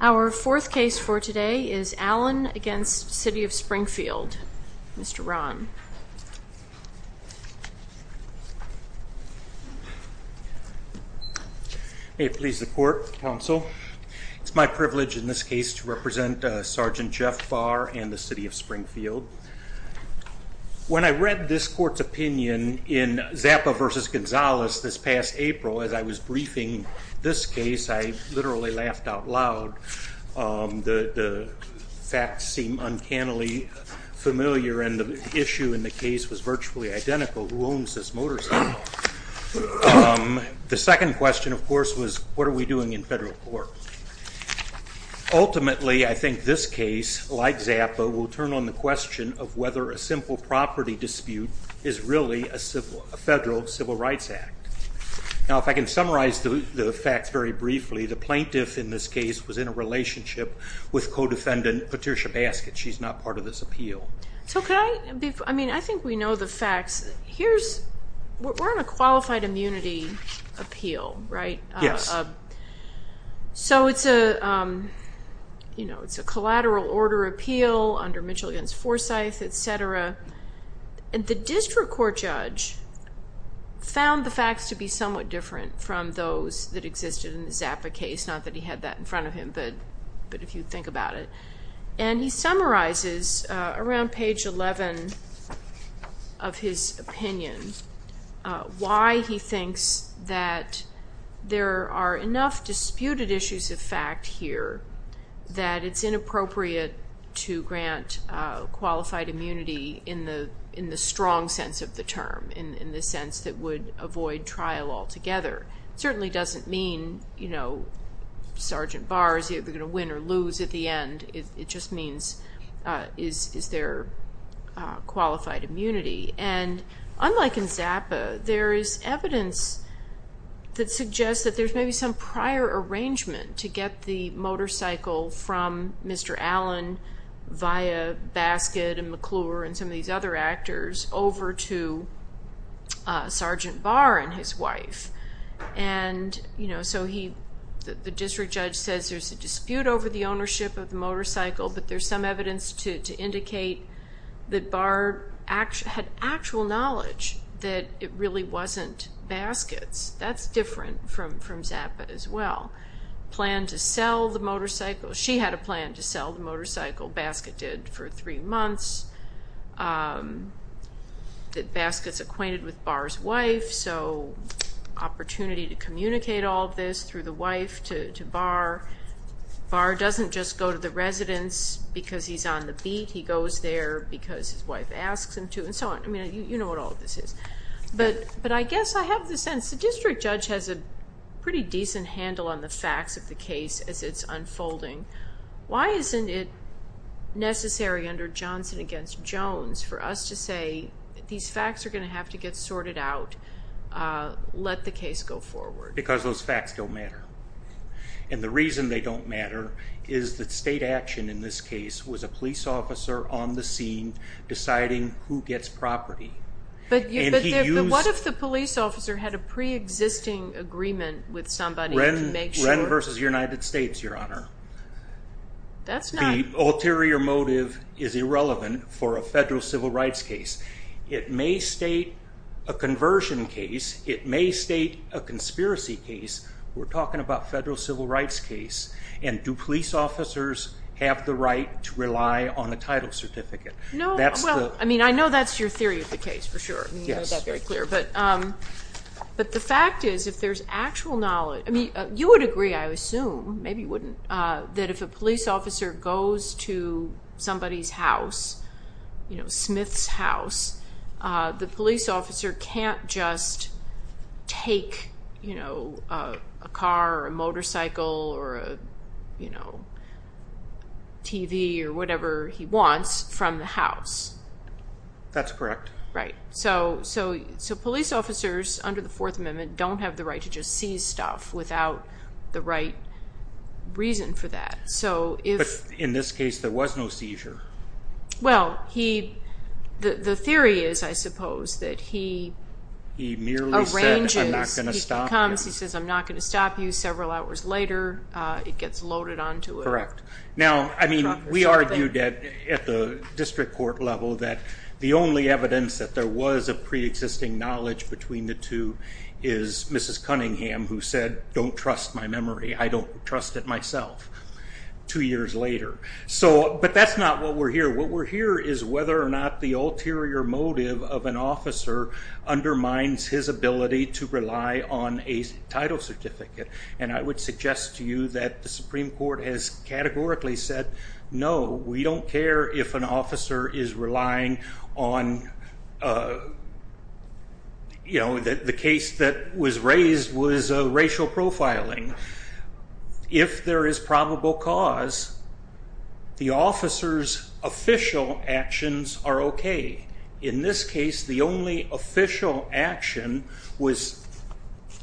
Our fourth case for today is Allin v. City of Springfield, Mr. Rahn. May it please the court, counsel. It's my privilege in this case to represent Sgt. Jeff Barr and the City of Springfield. When I read this court's opinion in Zappa v. Gonzalez this past April as I was briefing this case, I literally laughed out loud. The facts seemed uncannily familiar and the issue in the case was virtually identical. Who owns this motorcycle? The second question, of course, was what are we doing in federal court? Ultimately, I think this case, like Zappa, will turn on the question of whether a simple property dispute is really a federal civil rights act. If I can summarize the facts very briefly, the plaintiff in this case was in a relationship with co-defendant Patricia Baskett. She's not part of this appeal. I think we know the facts. We're on a qualified immunity appeal, right? Yes. It's a collateral order appeal under Mitchell v. Forsyth, etc. The district court judge found the facts to be somewhat different from those that existed in the Zappa case, not that he had that in front of him, but if you think about it. He summarizes around page 11 of his opinion why he thinks that there are enough disputed issues of fact here that it's inappropriate to grant qualified immunity in the strong sense of the term, in the sense that would avoid trial altogether. It certainly doesn't mean, you know, Sergeant Barr is either going to win or lose at the end. It just means is there qualified immunity? Unlike in Zappa, there is evidence that suggests that there's maybe some prior arrangement to get the motorcycle from Mr. Allen via Baskett and McClure and some of these other actors over to Sergeant Barr and his wife. The district judge says there's a dispute over the ownership of the motorcycle, but there's some evidence to indicate that Barr had actual knowledge that it really wasn't Baskett's. That's different from Zappa as well. She had a plan to sell the motorcycle. Baskett did for three months. Baskett's acquainted with Barr's wife, so opportunity to communicate all of this through the wife to Barr. Barr doesn't just go to the residence because he's on the beat. He goes there because his wife asks him to and so on. I mean, you know what all of this is. But I guess I have the sense. If the district judge has a pretty decent handle on the facts of the case as it's unfolding, why isn't it necessary under Johnson v. Jones for us to say these facts are going to have to get sorted out, let the case go forward? Because those facts don't matter. And the reason they don't matter is that state action in this case was a police officer on the scene deciding who gets property. But what if the police officer had a preexisting agreement with somebody to make sure? Wren v. United States, Your Honor. That's not. The ulterior motive is irrelevant for a federal civil rights case. It may state a conversion case. It may state a conspiracy case. We're talking about federal civil rights case. And do police officers have the right to rely on a title certificate? No. Well, I mean, I know that's your theory of the case for sure. You made that very clear. But the fact is if there's actual knowledge. I mean, you would agree, I assume, maybe you wouldn't, that if a police officer goes to somebody's house, you know, Smith's house, the police officer can't just take, you know, a car or a motorcycle or a, you know, TV or whatever he wants from the house. That's correct. Right. So police officers under the Fourth Amendment don't have the right to just seize stuff without the right reason for that. But in this case, there was no seizure. Well, the theory is, I suppose, that he arranges. He merely said, I'm not going to stop you. He comes, he says, I'm not going to stop you. Several hours later, it gets loaded onto a truck or something. Now, I mean, we argued at the district court level that the only evidence that there was a preexisting knowledge between the two is Mrs. Cunningham, who said, don't trust my memory. I don't trust it myself. Two years later. So, but that's not what we're here. What we're here is whether or not the ulterior motive of an officer undermines his ability to rely on a title certificate. And I would suggest to you that the Supreme Court has categorically said, no, we don't care if an officer is relying on, you know, the case that was raised was racial profiling. If there is probable cause, the officer's official actions are okay. In this case, the only official action was,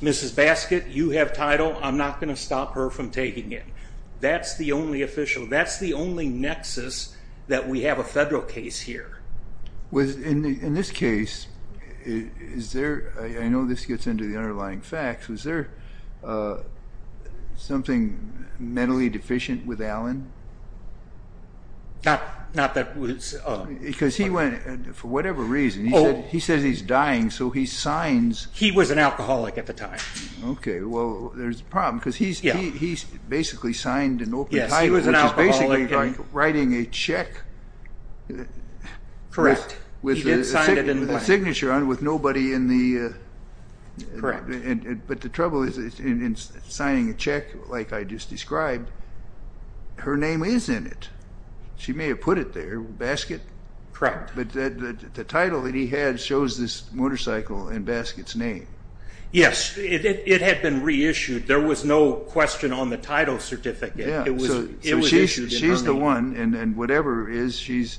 Mrs. Baskett, you have title, I'm not going to stop her from taking it. That's the only official, that's the only nexus that we have a federal case here. In this case, is there, I know this gets into the underlying facts, was there something mentally deficient with Allen? Not that it was. Because he went, for whatever reason, he says he's dying, so he signs. He was an alcoholic at the time. Okay, well, there's a problem, because he basically signed an open title. Yes, he was an alcoholic. Which is basically like writing a check. With the signature on it with nobody in the. Correct. But the trouble is, in signing a check, like I just described, her name is in it. She may have put it there, Baskett. Correct. But the title that he had shows this motorcycle in Baskett's name. Yes, it had been reissued. There was no question on the title certificate. Yeah, so she's the one, and whatever is, she's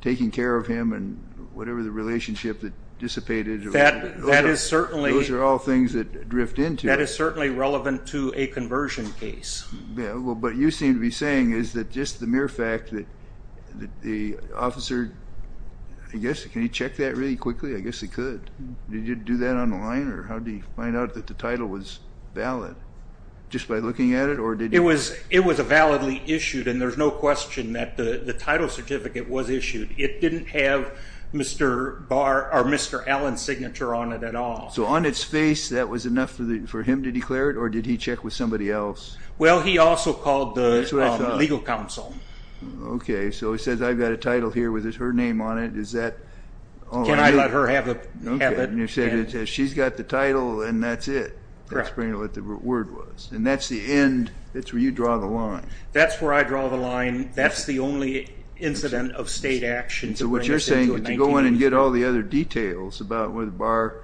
taking care of him, and whatever the relationship that dissipated. That is certainly. Those are all things that drift into it. That is certainly relevant to a conversion case. Yeah, but what you seem to be saying is that just the mere fact that the officer, I guess, can he check that really quickly? I guess he could. Did he do that on the line, or how did he find out that the title was valid? Just by looking at it, or did he. It was validly issued, and there's no question that the title certificate was issued. It didn't have Mr. Allen's signature on it at all. So on its face, that was enough for him to declare it, or did he check with somebody else? Well, he also called the legal counsel. Okay, so he says, I've got a title here with her name on it. Can I let her have it? She's got the title, and that's it. Correct. That's what the word was, and that's the end. That's where you draw the line. That's where I draw the line. That's the only incident of state action. So what you're saying is you go in and get all the other details about whether Barr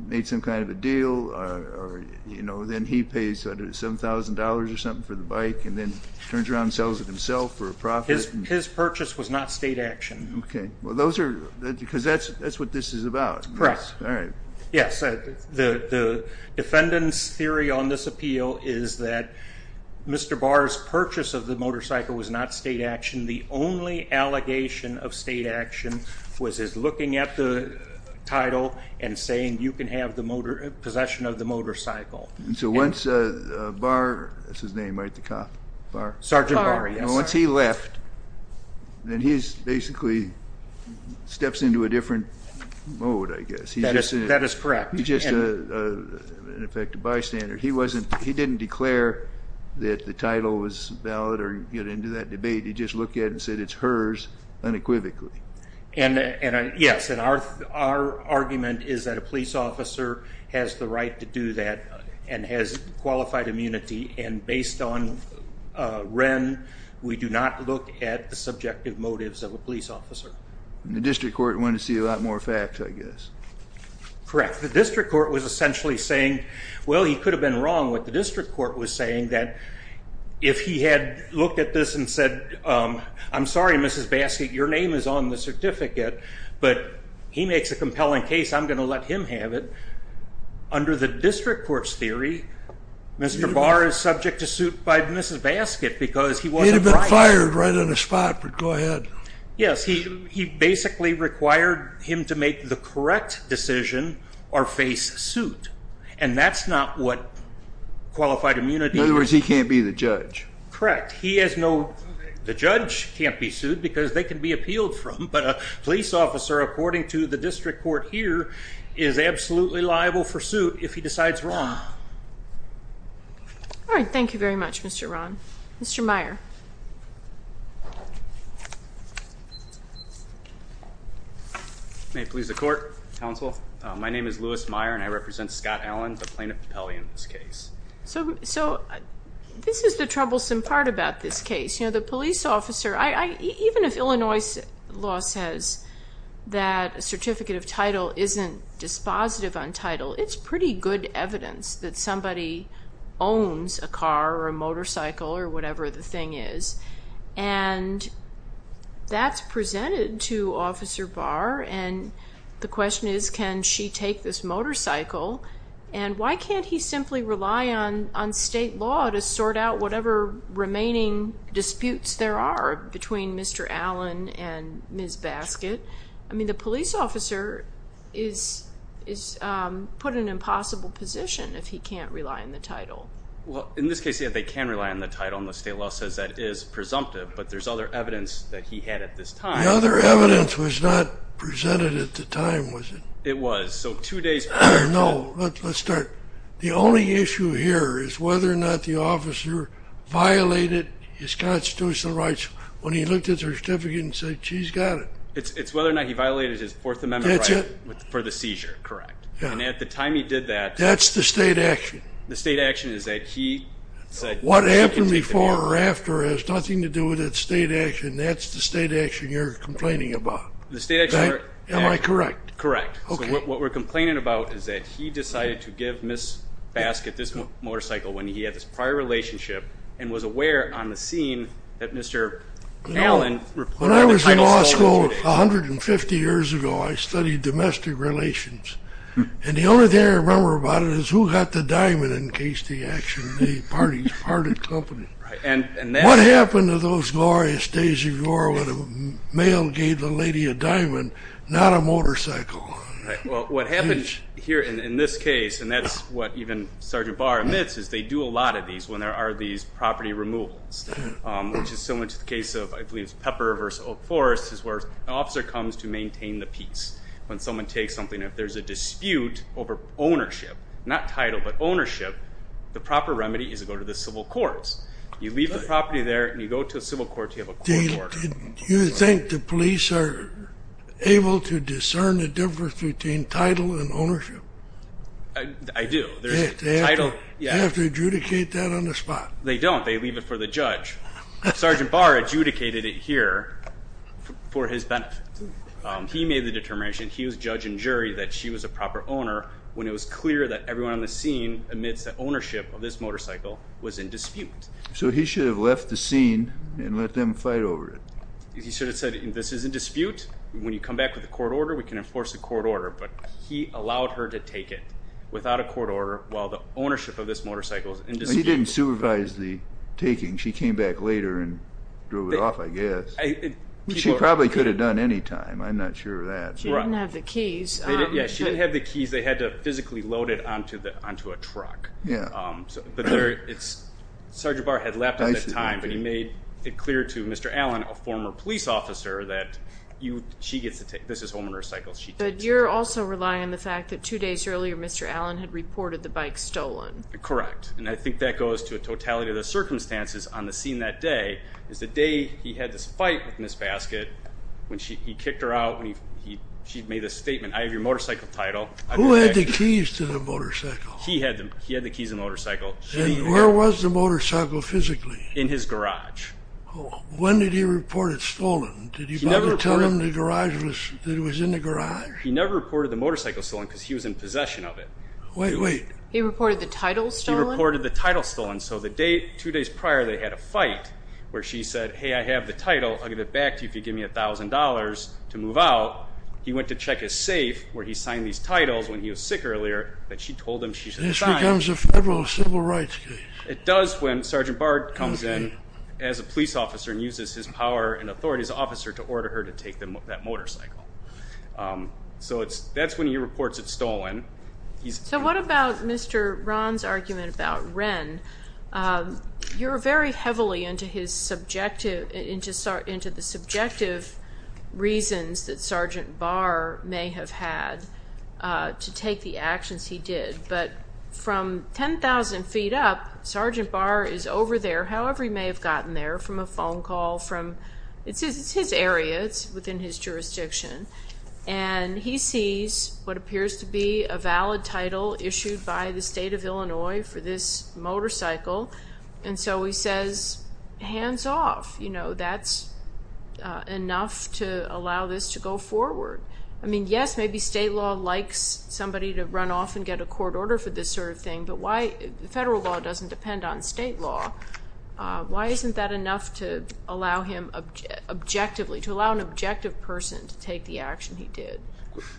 made some kind of a deal, or, you know, then he pays $7,000 or something for the bike, and then turns around and sells it himself for a profit. His purchase was not state action. Okay. Because that's what this is about. Correct. All right. Yes, the defendant's theory on this appeal is that Mr. Barr's purchase of the motorcycle was not state action. The only allegation of state action was his looking at the title and saying, you can have possession of the motorcycle. So once Barr, that's his name, right, the cop, Barr? Sergeant Barr, yes. Once he left, then he basically steps into a different mode, I guess. That is correct. He's just, in effect, a bystander. He didn't declare that the title was valid or get into that debate. He just looked at it and said it's hers unequivocally. Yes, and our argument is that a police officer has the right to do that and has qualified immunity, and based on Wren, we do not look at the subjective motives of a police officer. The district court wanted to see a lot more facts, I guess. Correct. The district court was essentially saying, well, he could have been wrong. What the district court was saying that if he had looked at this and said, I'm sorry, Mrs. Baskett, your name is on the certificate, but he makes a compelling case, I'm going to let him have it, under the district court's theory, Mr. Barr is subject to suit by Mrs. Baskett because he wasn't right. He'd have been fired right on the spot, but go ahead. Yes, he basically required him to make the correct decision or face suit, and that's not what qualified immunity is. In other words, he can't be the judge. Correct. The judge can't be sued because they can be appealed from, but a police officer, according to the district court here, is absolutely liable for suit if he decides wrong. All right. Thank you very much, Mr. Rahn. Mr. Meyer. May it please the court, counsel. My name is Louis Meyer, and I represent Scott Allen, the plaintiff of Pele in this case. So this is the troublesome part about this case. The police officer, even if Illinois law says that a certificate of title isn't dispositive on title, it's pretty good evidence that somebody owns a car or a motorcycle or whatever the thing is, and that's presented to Officer Barr, and the question is, can she take this motorcycle? And why can't he simply rely on state law to sort out whatever remaining disputes there are between Mr. Allen and Ms. Baskett? I mean, the police officer is put in an impossible position if he can't rely on the title. Well, in this case, yes, they can rely on the title, and the state law says that is presumptive, but there's other evidence that he had at this time. The other evidence was not presented at the time, was it? It was. So two days prior to that. No. Let's start. The only issue here is whether or not the officer violated his constitutional rights when he looked at the certificate and said, she's got it. It's whether or not he violated his Fourth Amendment right for the seizure, correct? Yeah. And at the time he did that. That's the state action. The state action is that he said she can take it. What happened before or after has nothing to do with that state action. And that's the state action you're complaining about. The state action. Am I correct? Correct. Okay. So what we're complaining about is that he decided to give Ms. Baskett this motorcycle when he had this prior relationship and was aware on the scene that Mr. Allen reported the title violation. When I was in law school 150 years ago, I studied domestic relations. And the only thing I remember about it is who got the diamond in case the action, the parties parted company. Right. What happened to those glorious days of yore when a male gave a lady a diamond, not a motorcycle? Well, what happened here in this case, and that's what even Sergeant Barr admits, is they do a lot of these when there are these property removals, which is similar to the case of, I believe it's Pepper v. Oak Forest, is where an officer comes to maintain the peace. When someone takes something, if there's a dispute over ownership, not title but ownership, the proper remedy is to go to the civil courts. You leave the property there and you go to a civil court, you have a court order. Do you think the police are able to discern the difference between title and ownership? I do. They have to adjudicate that on the spot. They don't. They leave it for the judge. Sergeant Barr adjudicated it here for his benefit. He made the determination. He was judge and jury that she was a proper owner when it was clear that ownership of this motorcycle was in dispute. So he should have left the scene and let them fight over it. He should have said, this is in dispute. When you come back with a court order, we can enforce a court order. But he allowed her to take it without a court order while the ownership of this motorcycle is in dispute. He didn't supervise the taking. She came back later and drew it off, I guess. She probably could have done any time. I'm not sure of that. She didn't have the keys. Yeah, she didn't have the keys. They had to physically load it onto a truck. Yeah. Sergeant Barr had left at that time, but he made it clear to Mr. Allen, a former police officer, that she gets to take it. This is homeowner's cycle. But you're also relying on the fact that two days earlier, Mr. Allen had reported the bike stolen. Correct. And I think that goes to a totality of the circumstances on the scene that day is the day he had this fight with Ms. Baskett when he kicked her out. She made a statement, I have your motorcycle title. Who had the keys to the motorcycle? He had the keys to the motorcycle. And where was the motorcycle physically? In his garage. When did he report it stolen? Did he tell him that it was in the garage? He never reported the motorcycle stolen because he was in possession of it. Wait, wait. He reported the title stolen? He reported the title stolen. So two days prior, they had a fight where she said, hey, I have the title. I'll give it back to you if you give me $1,000 to move out. He went to check his safe where he signed these titles when he was sick earlier that she told him she signed. This becomes a federal civil rights case. It does when Sergeant Bard comes in as a police officer and uses his power and authority as an officer to order her to take that motorcycle. So that's when he reports it stolen. So what about Mr. Ron's argument about Ren? You're very heavily into his subjective, into the subjective reasons that Sergeant Bard may have had to take the actions he did. But from 10,000 feet up, Sergeant Bard is over there, however he may have gotten there, from a phone call. It's his area. It's within his jurisdiction. And he sees what appears to be a valid title issued by the state of Illinois for this motorcycle. And so he says, hands off. You know, that's enough to allow this to go forward. I mean, yes, maybe state law likes somebody to run off and get a court order for this sort of thing, but federal law doesn't depend on state law. Why isn't that enough to allow him objectively, to allow an objective person to take the action he did?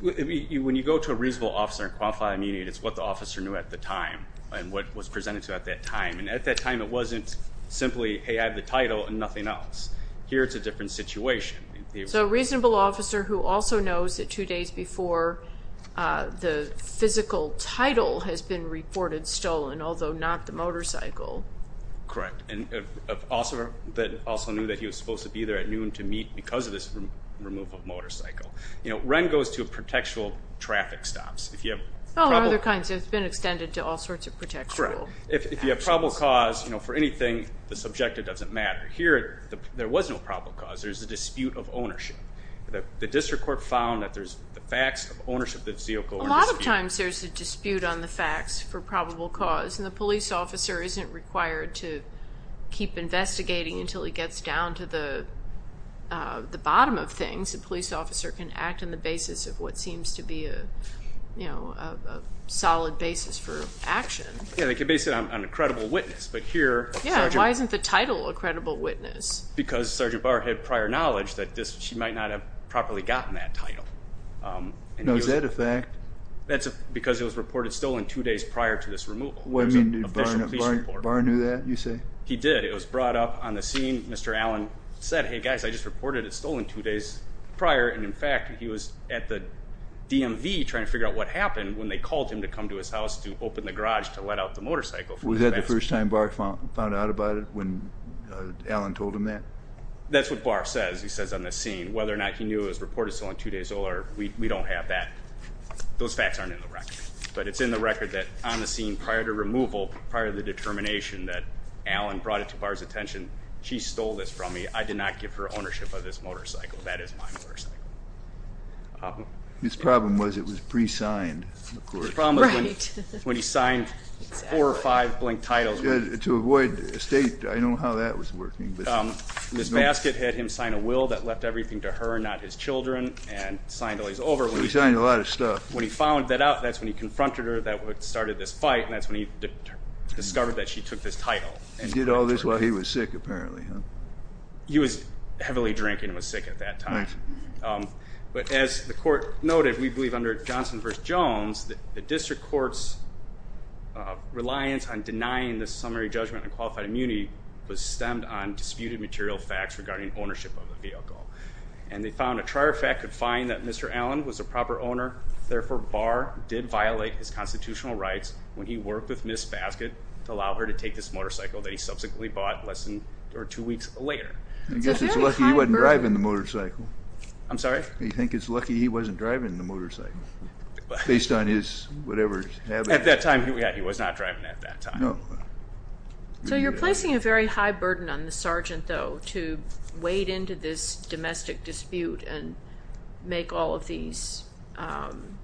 When you go to a reasonable officer and qualify immediately, it's what the officer knew at the time and what was presented to him at that time. And at that time it wasn't simply, hey, I have the title and nothing else. Here it's a different situation. So a reasonable officer who also knows that two days before the physical title has been reported stolen, although not the motorcycle. Correct. And also knew that he was supposed to be there at noon to meet because of this removal of motorcycle. You know, Ren goes to protectual traffic stops. All other kinds. It's been extended to all sorts of protectual actions. Correct. If you have probable cause for anything, the subject, it doesn't matter. Here there was no probable cause. There's a dispute of ownership. The district court found that there's facts of ownership. A lot of times there's a dispute on the facts for probable cause, and the police officer isn't required to keep investigating until he gets down to the bottom of things. The police officer can act on the basis of what seems to be a solid basis for action. Yeah, they can base it on a credible witness. Yeah, why isn't the title a credible witness? Because Sergeant Barr had prior knowledge that she might not have properly gotten that title. Now is that a fact? That's because it was reported stolen two days prior to this removal. I mean, did Barr know that, you say? He did. It was brought up on the scene. Mr. Allen said, hey, guys, I just reported it stolen two days prior, and, in fact, he was at the DMV trying to figure out what happened when they called him to come to his house to open the garage to let out the motorcycle. Was that the first time Barr found out about it when Allen told him that? That's what Barr says. He says on the scene whether or not he knew it was reported stolen two days or we don't have that. Those facts aren't in the record. But it's in the record that on the scene prior to removal, prior to the determination that Allen brought it to Barr's attention, she stole this from me. I did not give her ownership of this motorcycle. That is my motorcycle. His problem was it was pre-signed, of course. His problem was when he signed four or five blank titles. To avoid a state, I know how that was working. This basket had him sign a will that left everything to her, not his children, and signed all these over. He signed a lot of stuff. When he found that out, that's when he confronted her that started this fight, and that's when he discovered that she took this title. And did all this while he was sick, apparently, huh? He was heavily drinking and was sick at that time. Nice. But as the court noted, we believe under Johnson v. Jones, the district court's reliance on denying the summary judgment on qualified immunity was stemmed on disputed material facts regarding ownership of the vehicle. And they found a trier fact could find that Mr. Allen was a proper owner. Therefore, Barr did violate his constitutional rights when he worked with Ms. Baskett to allow her to take this motorcycle that he subsequently bought less than two weeks later. I guess it's lucky he wasn't driving the motorcycle. I'm sorry? I think it's lucky he wasn't driving the motorcycle, based on his whatever habits. At that time, yeah, he was not driving at that time. So you're placing a very high burden on the sergeant, though, to wade into this domestic dispute and make all of these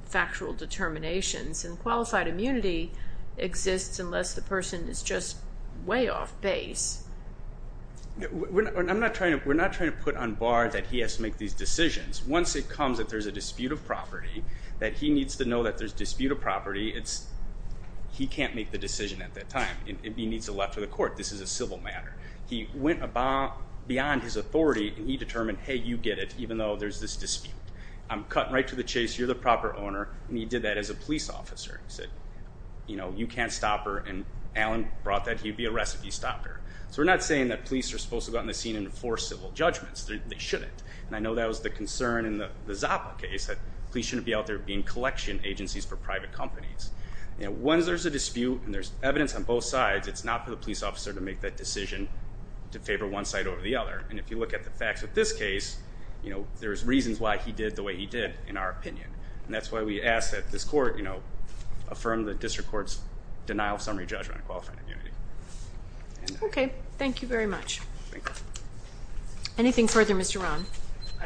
factual determinations. And qualified immunity exists unless the person is just way off base. We're not trying to put on Barr that he has to make these decisions. Once it comes that there's a dispute of property, that he needs to know that there's dispute of property, he can't make the decision at that time. He needs to left for the court. This is a civil matter. He went beyond his authority, and he determined, hey, you get it, even though there's this dispute. I'm cutting right to the chase. You're the proper owner, and he did that as a police officer. He said, you know, you can't stop her, and Alan brought that. He'd be arrested if he stopped her. So we're not saying that police are supposed to go out in the scene and enforce civil judgments. They shouldn't. And I know that was the concern in the Zappa case, that police shouldn't be out there being collection agencies for private companies. Once there's a dispute and there's evidence on both sides, it's not for the police officer to make that decision to favor one side over the other. And if you look at the facts with this case, you know, there's reasons why he did the way he did, in our opinion. And that's why we ask that this court, you know, affirm the district court's denial of summary judgment and qualifying immunity. Okay. Thank you very much. Anything further, Mr. Rahn? I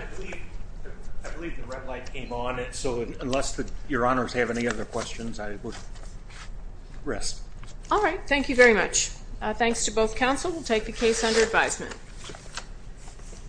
believe the red light came on, so unless Your Honors have any other questions, I will rest. All right. Thank you very much. Thanks to both counsel. We'll take the case under advisement.